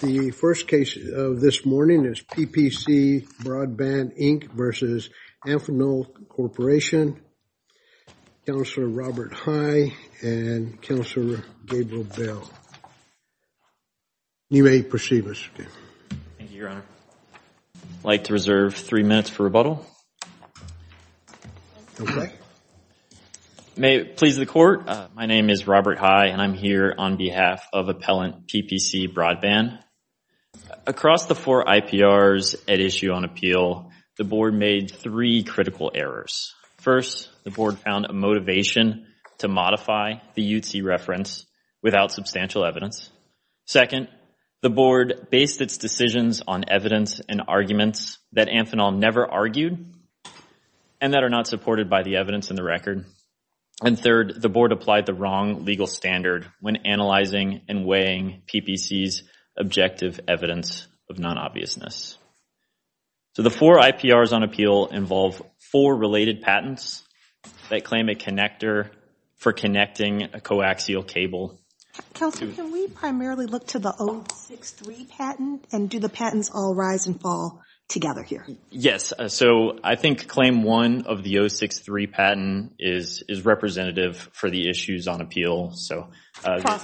The first case of this morning is PPC Broadband, Inc. v. Amphenol Corp. Counselor Robert High and Counselor Gabriel Bell. You may proceed, Mr. Chairman. Thank you, Your Honor. I'd like to reserve three minutes for rebuttal. May it please the Court, my name is Robert High, and I'm here on behalf of Appellant PPC Broadband. Across the four IPRs at issue on appeal, the Board made three critical errors. First, the Board found a motivation to modify the UTC reference without substantial evidence. Second, the Board based its decisions on evidence and arguments that Amphenol never argued and that are not supported by the evidence in the record. And third, the Board applied the wrong legal standard when analyzing and weighing PPC's objective evidence of non-obviousness. So the four IPRs on appeal involve four related patents that claim a connector for connecting a coaxial cable. Counselor, can we primarily look to the 063 patent and do the patents all rise and fall together here? Yes. So I think claim one of the 063 patent is representative for the issues on appeal. Across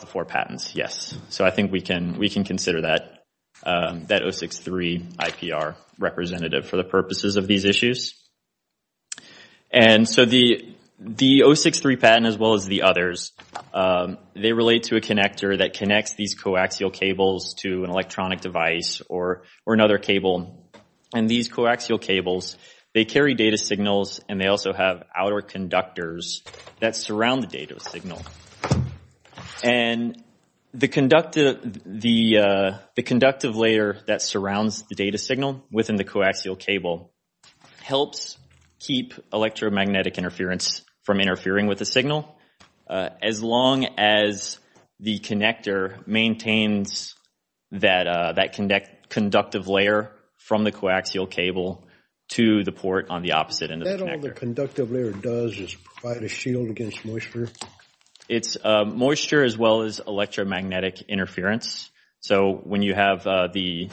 the four patents? So I think we can consider that 063 IPR representative for the purposes of these issues. And so the 063 patent, as well as the others, they relate to a connector that connects these coaxial cables to an electronic device or another cable. And these coaxial cables, they carry data signals and they also have outer conductors that surround the data signal. And the conductive layer that surrounds the data signal within the coaxial cable helps keep electromagnetic interference from interfering with the signal. As long as the connector maintains that conductive layer from the coaxial cable to the port on the opposite end of the connector. Is that all the conductive layer does is provide a shield against moisture? It's moisture as well as electromagnetic interference. So when you have the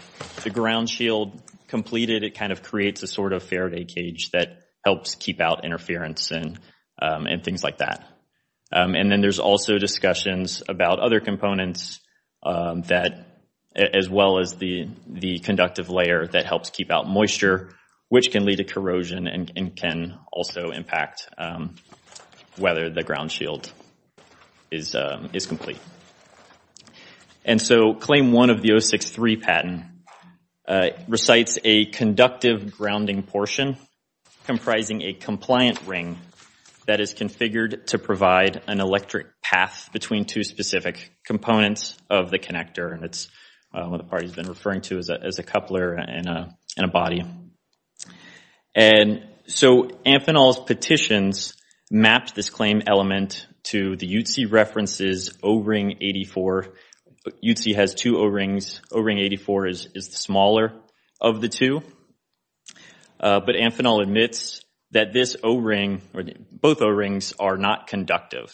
ground shield completed, it kind of creates a sort of Faraday cage that helps keep out interference and things like that. And then there's also discussions about other components that, as well as the conductive layer that helps keep out moisture, which can lead to corrosion and can also impact whether the ground shield is complete. And so claim one of the 063 patent recites a conductive grounding portion comprising a compliant ring that is configured to provide an electric path between two specific components of the connector. And that's what the party's been referring to as a coupler in a body. And so Amphenol's petitions mapped this claim element to the UTC references O-ring 84. UTC has two O-rings. O-ring 84 is the smaller of the two. But Amphenol admits that this O-ring, or both O-rings, are not conductive.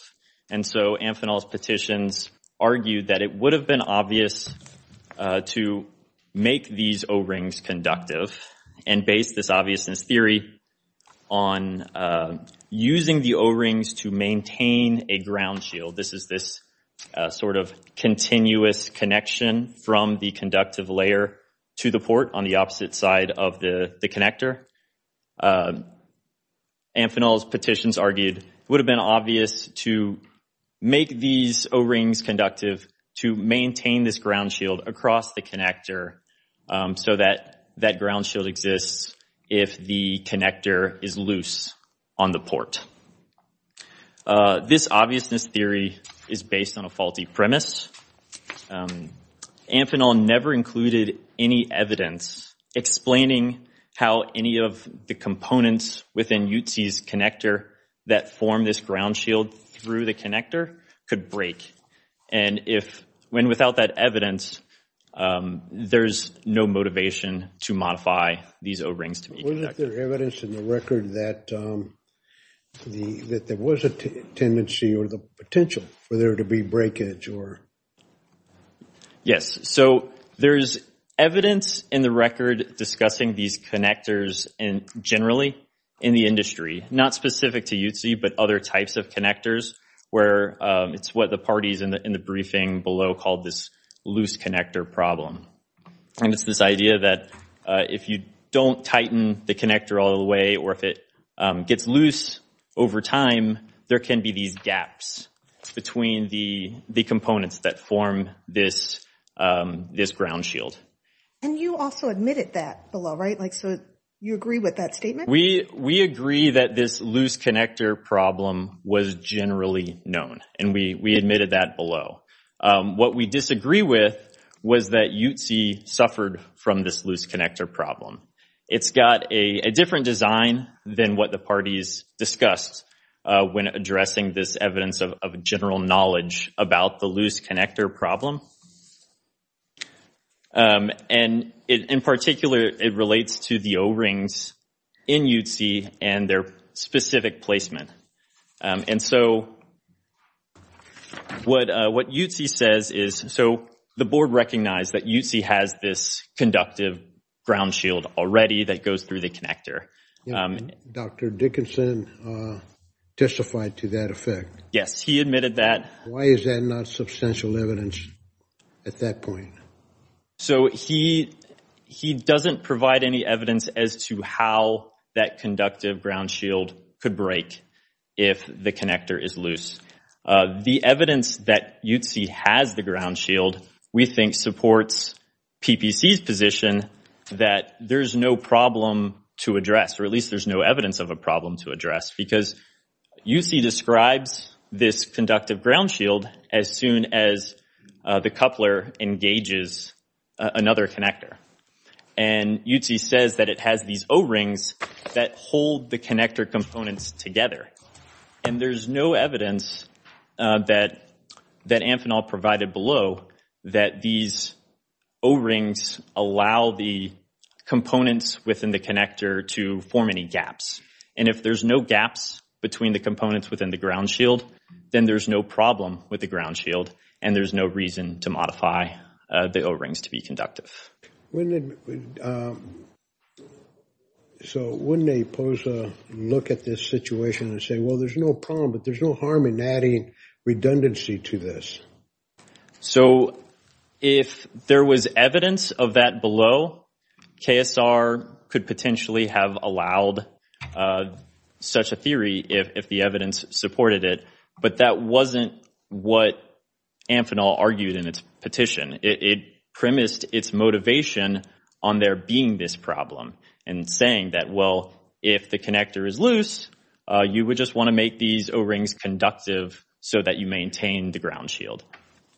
And so Amphenol's petitions argue that it would have been obvious to make these O-rings conductive and base this obviousness theory on using the O-rings to maintain a ground shield. This is this sort of continuous connection from the conductive layer to the port on the opposite side of the connector. Amphenol's petitions argued it would have been obvious to make these O-rings conductive to maintain this ground shield across the connector so that that ground shield exists if the connector is loose on the port. This obviousness theory is based on a faulty premise. Amphenol never included any evidence explaining how any of the components within UTC's connector that form this ground shield through the connector could break. And without that evidence, there's no motivation to modify these O-rings to be conductive. Wasn't there evidence in the record that there was a tendency or the potential for there to be breakage? Yes. So there is evidence in the record discussing these connectors generally in the industry. Not specific to UTC, but other types of connectors where it's what the parties in the briefing below called this loose connector problem. And it's this idea that if you don't tighten the connector all the way or if it gets loose over time, there can be these gaps between the components that form this ground shield. And you also admitted that below, right? So you agree with that statement? We agree that this loose connector problem was generally known. And we admitted that below. What we disagree with was that UTC suffered from this loose connector problem. It's got a different design than what the parties discussed when addressing this evidence of general knowledge about the loose connector problem. And in particular, it relates to the O-rings in UTC and their specific placement. And so what UTC says is, so the board recognized that UTC has this conductive ground shield already that goes through the connector. Dr. Dickinson testified to that effect. Yes, he admitted that. Why is that not substantial evidence at that point? So he doesn't provide any evidence as to how that conductive ground shield could break if the connector is loose. The evidence that UTC has the ground shield we think supports PPC's position that there's no problem to address, or at least there's no evidence of a problem to address, because UTC describes this conductive ground shield as soon as the coupler engages another connector. And UTC says that it has these O-rings that hold the connector components together. And there's no evidence that Amphenol provided below that these O-rings allow the components within the connector to form any gaps. And if there's no gaps between the components within the ground shield, then there's no problem with the ground shield and there's no reason to modify the O-rings to be conductive. So wouldn't they pose a look at this situation and say, well, there's no problem, but there's no harm in adding redundancy to this? So if there was evidence of that below, KSR could potentially have allowed such a theory if the evidence supported it. But that wasn't what Amphenol argued in its petition. It premised its motivation on there being this problem and saying that, well, if the connector is loose, you would just want to make these O-rings conductive so that you maintain the ground shield.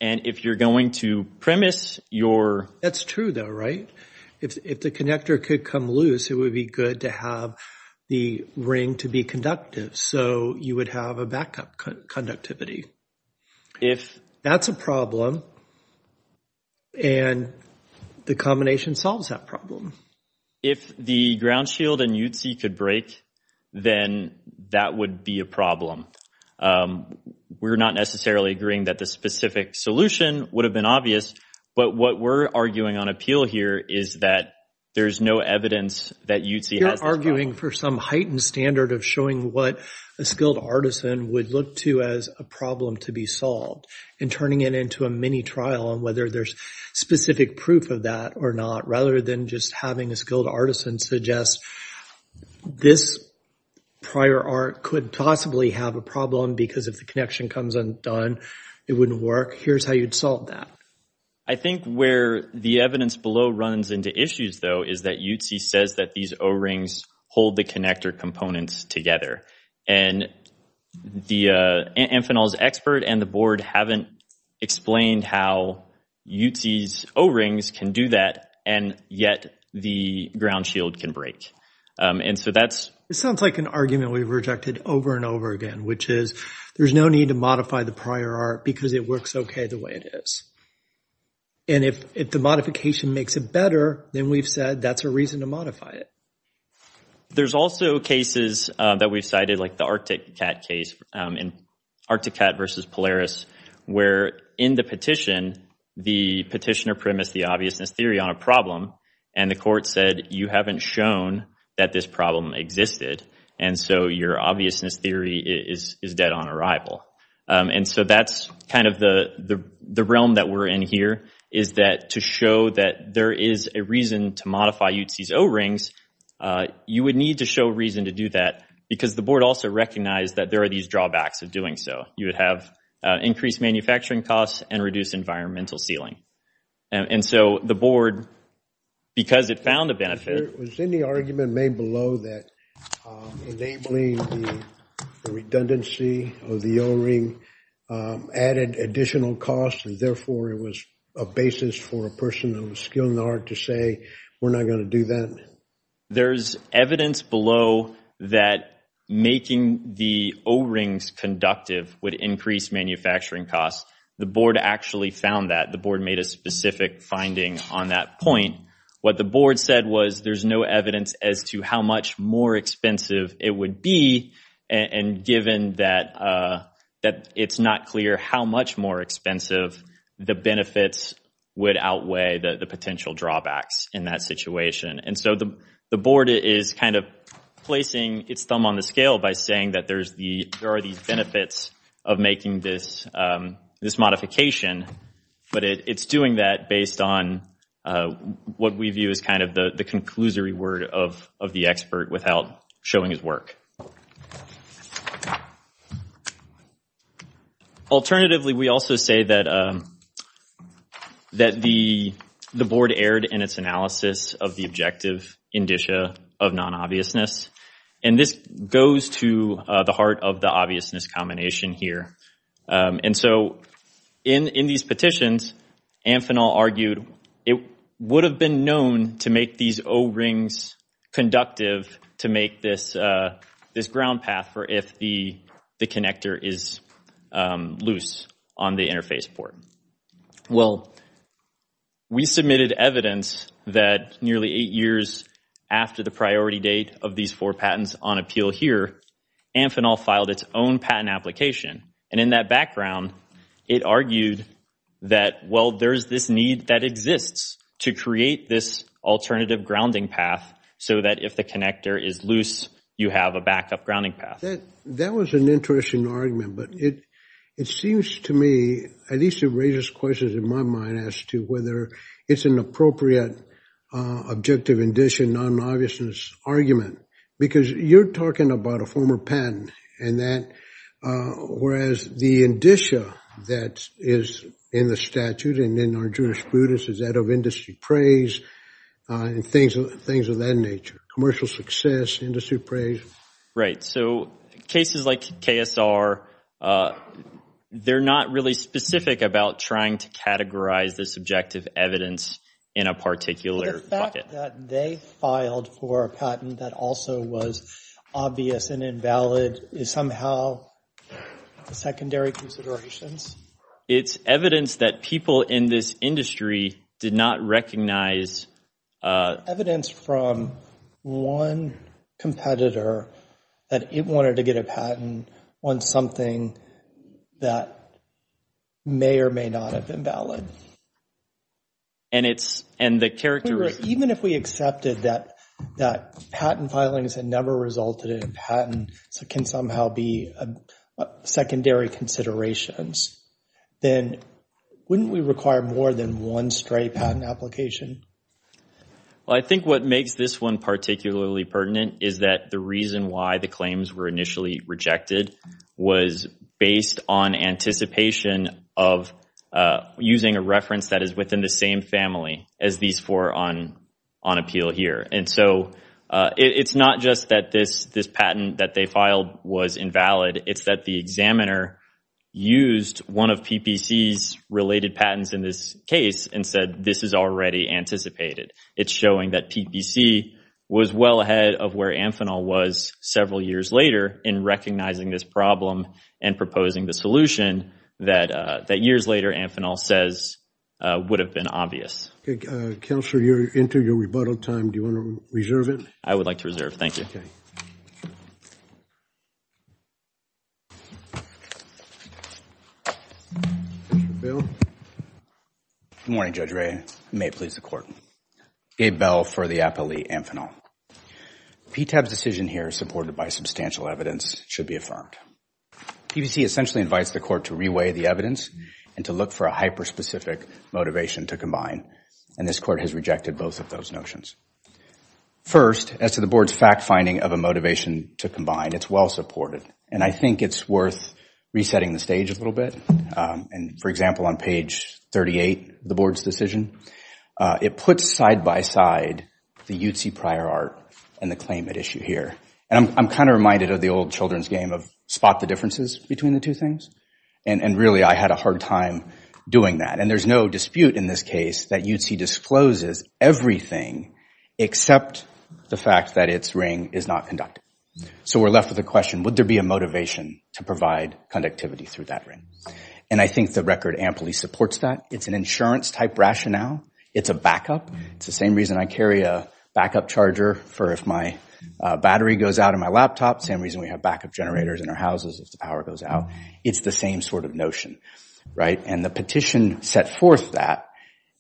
And if you're going to premise your... That's true, though, right? If the connector could come loose, it would be good to have the ring to be conductive. So you would have a backup conductivity. If... That's a problem. And the combination solves that problem. If the ground shield and UTC could break, then that would be a problem. We're not necessarily agreeing that the specific solution would have been obvious. But what we're arguing on appeal here is that there's no evidence that UTC has this problem. You're arguing for some heightened standard of showing what a skilled artisan would look to as a problem to be solved and turning it into a mini trial on whether there's specific proof of that or not, rather than just having a skilled artisan suggest this prior art could possibly have a problem because if the connection comes undone, it wouldn't work. Here's how you'd solve that. I think where the evidence below runs into issues, though, is that UTC says that these O-rings hold the connector components together. And Amphenol's expert and the board haven't explained how UTC's O-rings can do that and yet the ground shield can break. And so that's... It sounds like an argument we've rejected over and over again, which is there's no need to modify the prior art because it works okay the way it is. And if the modification makes it better, then we've said that's a reason to modify it. There's also cases that we've cited, like the ArcticCat case in ArcticCat versus Polaris, where in the petition the petitioner premised the obviousness theory on a problem and the court said you haven't shown that this problem existed and so your obviousness theory is dead on arrival. And so that's kind of the realm that we're in here, is that to show that there is a reason to modify UTC's O-rings, you would need to show reason to do that because the board also recognized that there are these drawbacks of doing so. You would have increased manufacturing costs and reduced environmental sealing. And so the board, because it found a benefit... Was any argument made below that enabling the redundancy of the O-ring added additional costs and therefore it was a basis for a person who was skilled in the art to say, we're not going to do that? There's evidence below that making the O-rings conductive would increase manufacturing costs. The board actually found that. The board made a specific finding on that point. What the board said was there's no evidence as to how much more expensive it would be and given that it's not clear how much more expensive the benefits would outweigh the potential drawbacks in that situation. And so the board is kind of placing its thumb on the scale by saying that there are these benefits of making this modification, but it's doing that based on what we view as kind of the conclusory word of the expert without showing his work. Alternatively, we also say that the board erred in its analysis of the objective indicia of non-obviousness. And this goes to the heart of the obviousness combination here. And so in these petitions, Amphenol argued it would have been known to make these O-rings conductive to make this ground path for if the connector is loose on the interface port. Well, we submitted evidence that nearly eight years after the priority date of these four patents on appeal here, Amphenol filed its own patent application. And in that background, it argued that, well, there's this need that exists to create this alternative grounding path so that if the connector is loose, you have a backup grounding path. That was an interesting argument, but it seems to me, at least it raises questions in my mind, as to whether it's an appropriate objective indicia non-obviousness argument. Because you're talking about a former patent, whereas the indicia that is in the statute and in our jurisprudence is that of industry praise and things of that nature, commercial success, industry praise. Right. So cases like KSR, they're not really specific about trying to categorize this objective evidence in a particular bucket. The fact that they filed for a patent that also was obvious and invalid is somehow secondary considerations. It's evidence that people in this industry did not recognize. It's evidence from one competitor that it wanted to get a patent on something that may or may not have been valid. And the characteristics. Even if we accepted that patent filings that never resulted in a patent can somehow be secondary considerations, then wouldn't we require more than one straight patent application? Well, I think what makes this one particularly pertinent is that the reason why the claims were initially rejected was based on anticipation of using a reference that is within the same family as these four on appeal here. And so it's not just that this patent that they filed was invalid. It's that the examiner used one of PPC's related patents in this case and said this is already anticipated. It's showing that PPC was well ahead of where Amphenol was several years later in recognizing this problem and proposing the solution that years later Amphenol says would have been obvious. Counselor, you're into your rebuttal time. Do you want to reserve it? I would like to reserve. Thank you. Good morning, Judge Ray. May it please the Court. Gabe Bell for the Appellee Amphenol. PTAB's decision here, supported by substantial evidence, should be affirmed. PPC essentially invites the Court to reweigh the evidence and to look for a hyperspecific motivation to combine. And this Court has rejected both of those notions. First, as to the Board's fact-finding of a motivation to combine, it's well-supported. And I think it's worth resetting the stage a little bit. And, for example, on page 38 of the Board's decision, it puts side-by-side the UTC prior art and the claimant issue here. And I'm kind of reminded of the old children's game of spot the differences between the two things. And really, I had a hard time doing that. And there's no dispute in this case that UTC discloses everything except the fact that its ring is not conductive. So we're left with the question, would there be a motivation to provide conductivity through that ring? And I think the record amply supports that. It's an insurance-type rationale. It's a backup. It's the same reason I carry a backup charger for if my battery goes out on my laptop. Same reason we have backup generators in our houses if the power goes out. It's the same sort of notion. And the petition set forth that,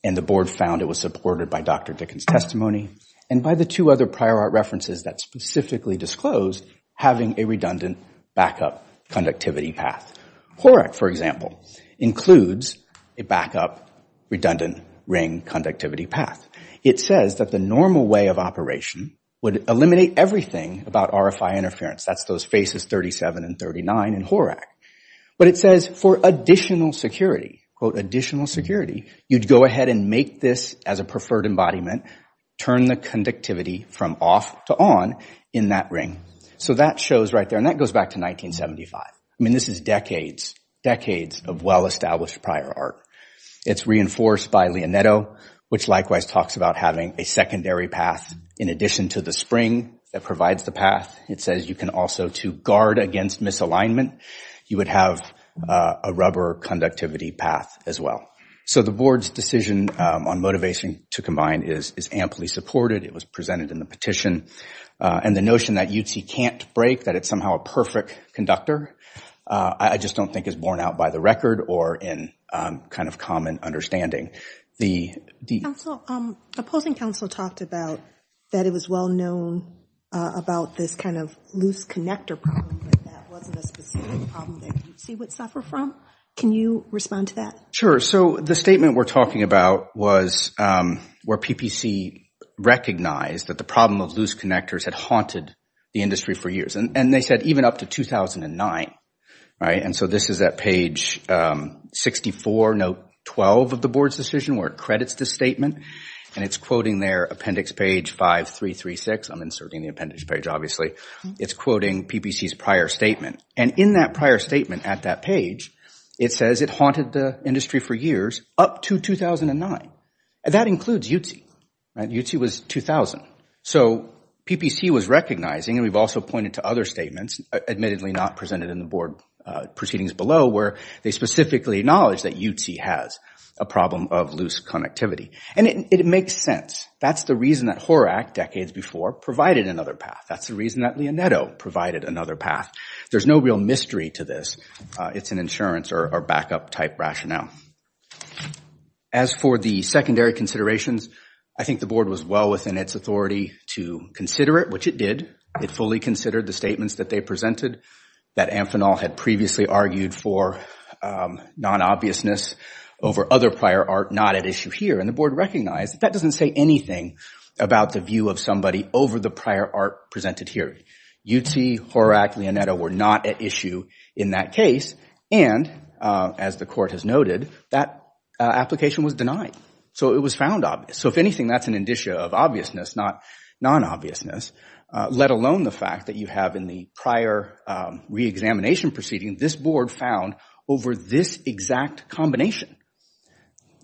and the Board found it was supported by Dr. Dickens' testimony and by the two other prior art references that specifically disclosed having a redundant backup conductivity path. HORAC, for example, includes a backup redundant ring conductivity path. It says that the normal way of operation would eliminate everything about RFI interference. That's those phases 37 and 39 in HORAC. But it says for additional security, quote, additional security, you'd go ahead and make this as a preferred embodiment, turn the conductivity from off to on in that ring. So that shows right there, and that goes back to 1975. I mean, this is decades, decades of well-established prior art. It's reinforced by Leonetto, which likewise talks about having a secondary path in addition to the spring that provides the path. It says you can also, to guard against misalignment, you would have a rubber conductivity path as well. So the Board's decision on motivation to combine is amply supported. It was presented in the petition. And the notion that UT can't break, that it's somehow a perfect conductor, I just don't think is borne out by the record or in kind of common understanding. The opposing counsel talked about that it was well-known about this kind of loose connector problem, but that wasn't a specific problem that you'd see would suffer from. Can you respond to that? Sure. So the statement we're talking about was where PPC recognized that the problem of loose connectors had haunted the industry for years. And they said even up to 2009. And so this is at page 64, note 12 of the Board's decision where it credits the statement. And it's quoting their appendix page 5336. I'm inserting the appendix page, obviously. It's quoting PPC's prior statement. And in that prior statement at that page, it says it haunted the industry for years up to 2009. And that includes UT. UT was 2000. So PPC was recognizing, and we've also pointed to other statements, admittedly not presented in the Board proceedings below, where they specifically acknowledge that UT has a problem of loose connectivity. And it makes sense. That's the reason that Horak, decades before, provided another path. That's the reason that Leonetto provided another path. There's no real mystery to this. It's an insurance or backup type rationale. As for the secondary considerations, I think the Board was well within its authority to consider it, which it did. It fully considered the statements that they presented that Amphenol had previously argued for non-obviousness over other prior art not at issue here. And the Board recognized that that doesn't say anything about the view of somebody over the prior art presented here. UT, Horak, Leonetto were not at issue in that case. And, as the Court has noted, that application was denied. So it was found obvious. So if anything, that's an indicia of obviousness, not non-obviousness, let alone the fact that you have in the prior reexamination proceeding this Board found over this exact combination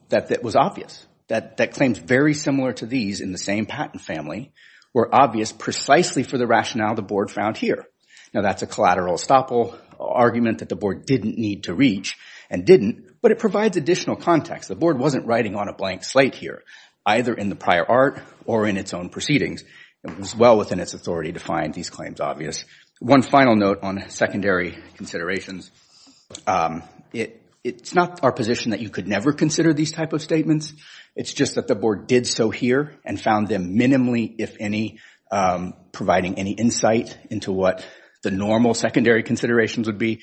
that was obvious. That claims very similar to these in the same patent family were obvious precisely for the rationale the Board found here. Now, that's a collateral estoppel argument that the Board didn't need to reach and didn't. But it provides additional context. The Board wasn't writing on a blank slate here, either in the prior art or in its own proceedings. It was well within its authority to find these claims obvious. One final note on secondary considerations. It's not our position that you could never consider these type of statements. It's just that the Board did so here and found them minimally, if any, providing any insight into what the normal secondary considerations would be.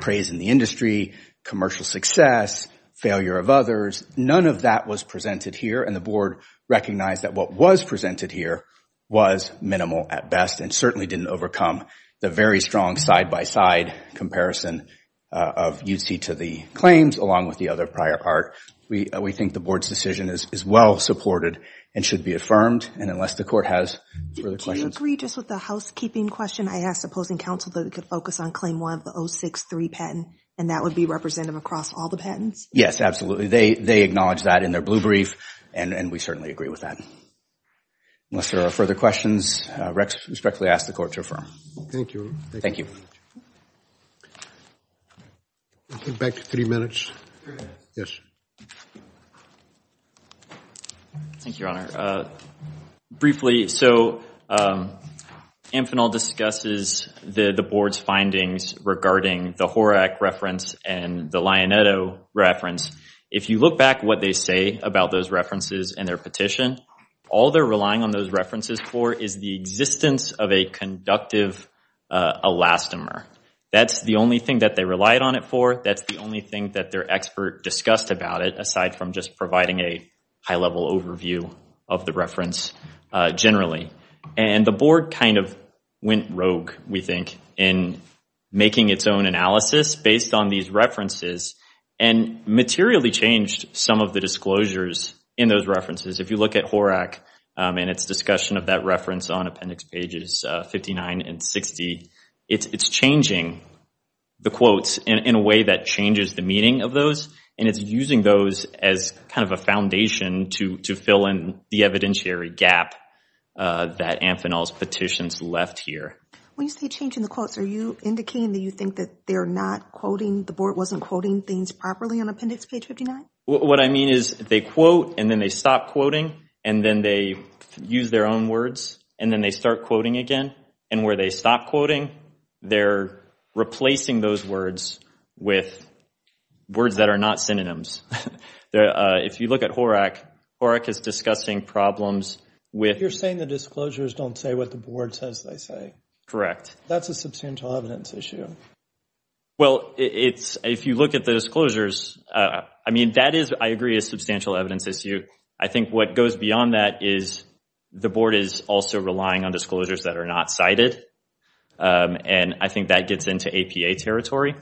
Praise in the industry, commercial success, failure of others. None of that was presented here. And the Board recognized that what was presented here was minimal at best and certainly didn't overcome the very strong side-by-side comparison of UT to the claims along with the other prior art. We think the Board's decision is well supported and should be affirmed. And unless the Court has further questions. Do you agree just with the housekeeping question? I asked opposing counsel that we could focus on claim one of the 063 patent, and that would be representative across all the patents? Yes, absolutely. They acknowledged that in their blue brief, and we certainly agree with that. Unless there are further questions, I respectfully ask the Court to affirm. Thank you. Thank you. We'll go back to three minutes. Yes. Thank you, Your Honor. Briefly, so Amphenol discusses the Board's findings regarding the Horak reference and the Lionetto reference. If you look back what they say about those references and their petition, all they're relying on those references for is the existence of a conductive elastomer. That's the only thing that they relied on it for. That's the only thing that their expert discussed about it, aside from just providing a high-level overview of the reference generally. And the Board kind of went rogue, we think, in making its own analysis based on these references and materially changed some of the disclosures in those references. If you look at Horak and its discussion of that reference on Appendix Pages 59 and 60, it's changing the quotes in a way that changes the meaning of those, and it's using those as kind of a foundation to fill in the evidentiary gap that Amphenol's petitions left here. When you say changing the quotes, are you indicating that you think that they're not quoting, the Board wasn't quoting things properly on Appendix Page 59? What I mean is they quote, and then they stop quoting, and then they use their own words, and then they start quoting again, and where they stop quoting, they're replacing those words with words that are not synonyms. If you look at Horak, Horak is discussing problems with- You're saying the disclosures don't say what the Board says they say. Correct. That's a substantial evidence issue. Well, if you look at the disclosures, I mean, that is, I agree, a substantial evidence issue. I think what goes beyond that is the Board is also relying on disclosures that are not cited, and I think that gets into APA territory.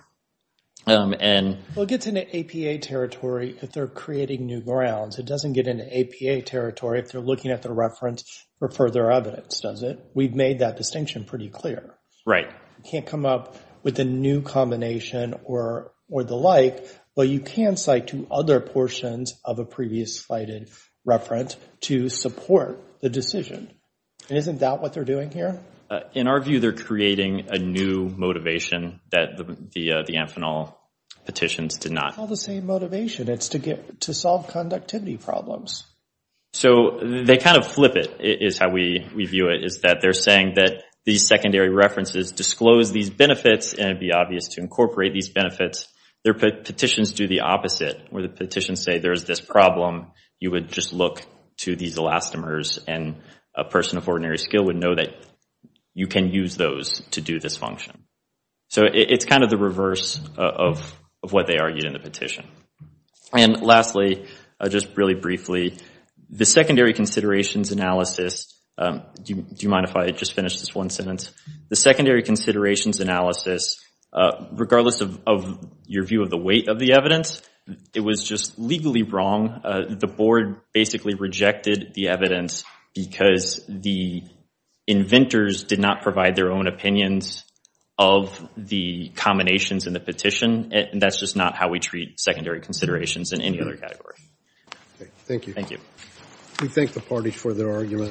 Well, it gets into APA territory if they're creating new grounds. It doesn't get into APA territory if they're looking at the reference for further evidence, does it? We've made that distinction pretty clear. Right. You can't come up with a new combination or the like, but you can cite two other portions of a previous cited reference to support the decision, and isn't that what they're doing here? In our view, they're creating a new motivation that the Amphenol petitions did not. It's not the same motivation. It's to solve conductivity problems. So they kind of flip it, is how we view it, is that they're saying that these secondary references disclose these benefits, and it would be obvious to incorporate these benefits. Their petitions do the opposite, where the petitions say there's this problem. You would just look to these elastomers, and a person of ordinary skill would know that you can use those to do this function. So it's kind of the reverse of what they argued in the petition. And lastly, just really briefly, the secondary considerations analysis, do you mind if I just finish this one sentence? The secondary considerations analysis, regardless of your view of the weight of the evidence, it was just legally wrong. The board basically rejected the evidence because the inventors did not provide their own opinions of the combinations in the petition, and that's just not how we treat secondary considerations in any other category. Thank you. Thank you. We thank the parties for their arguments.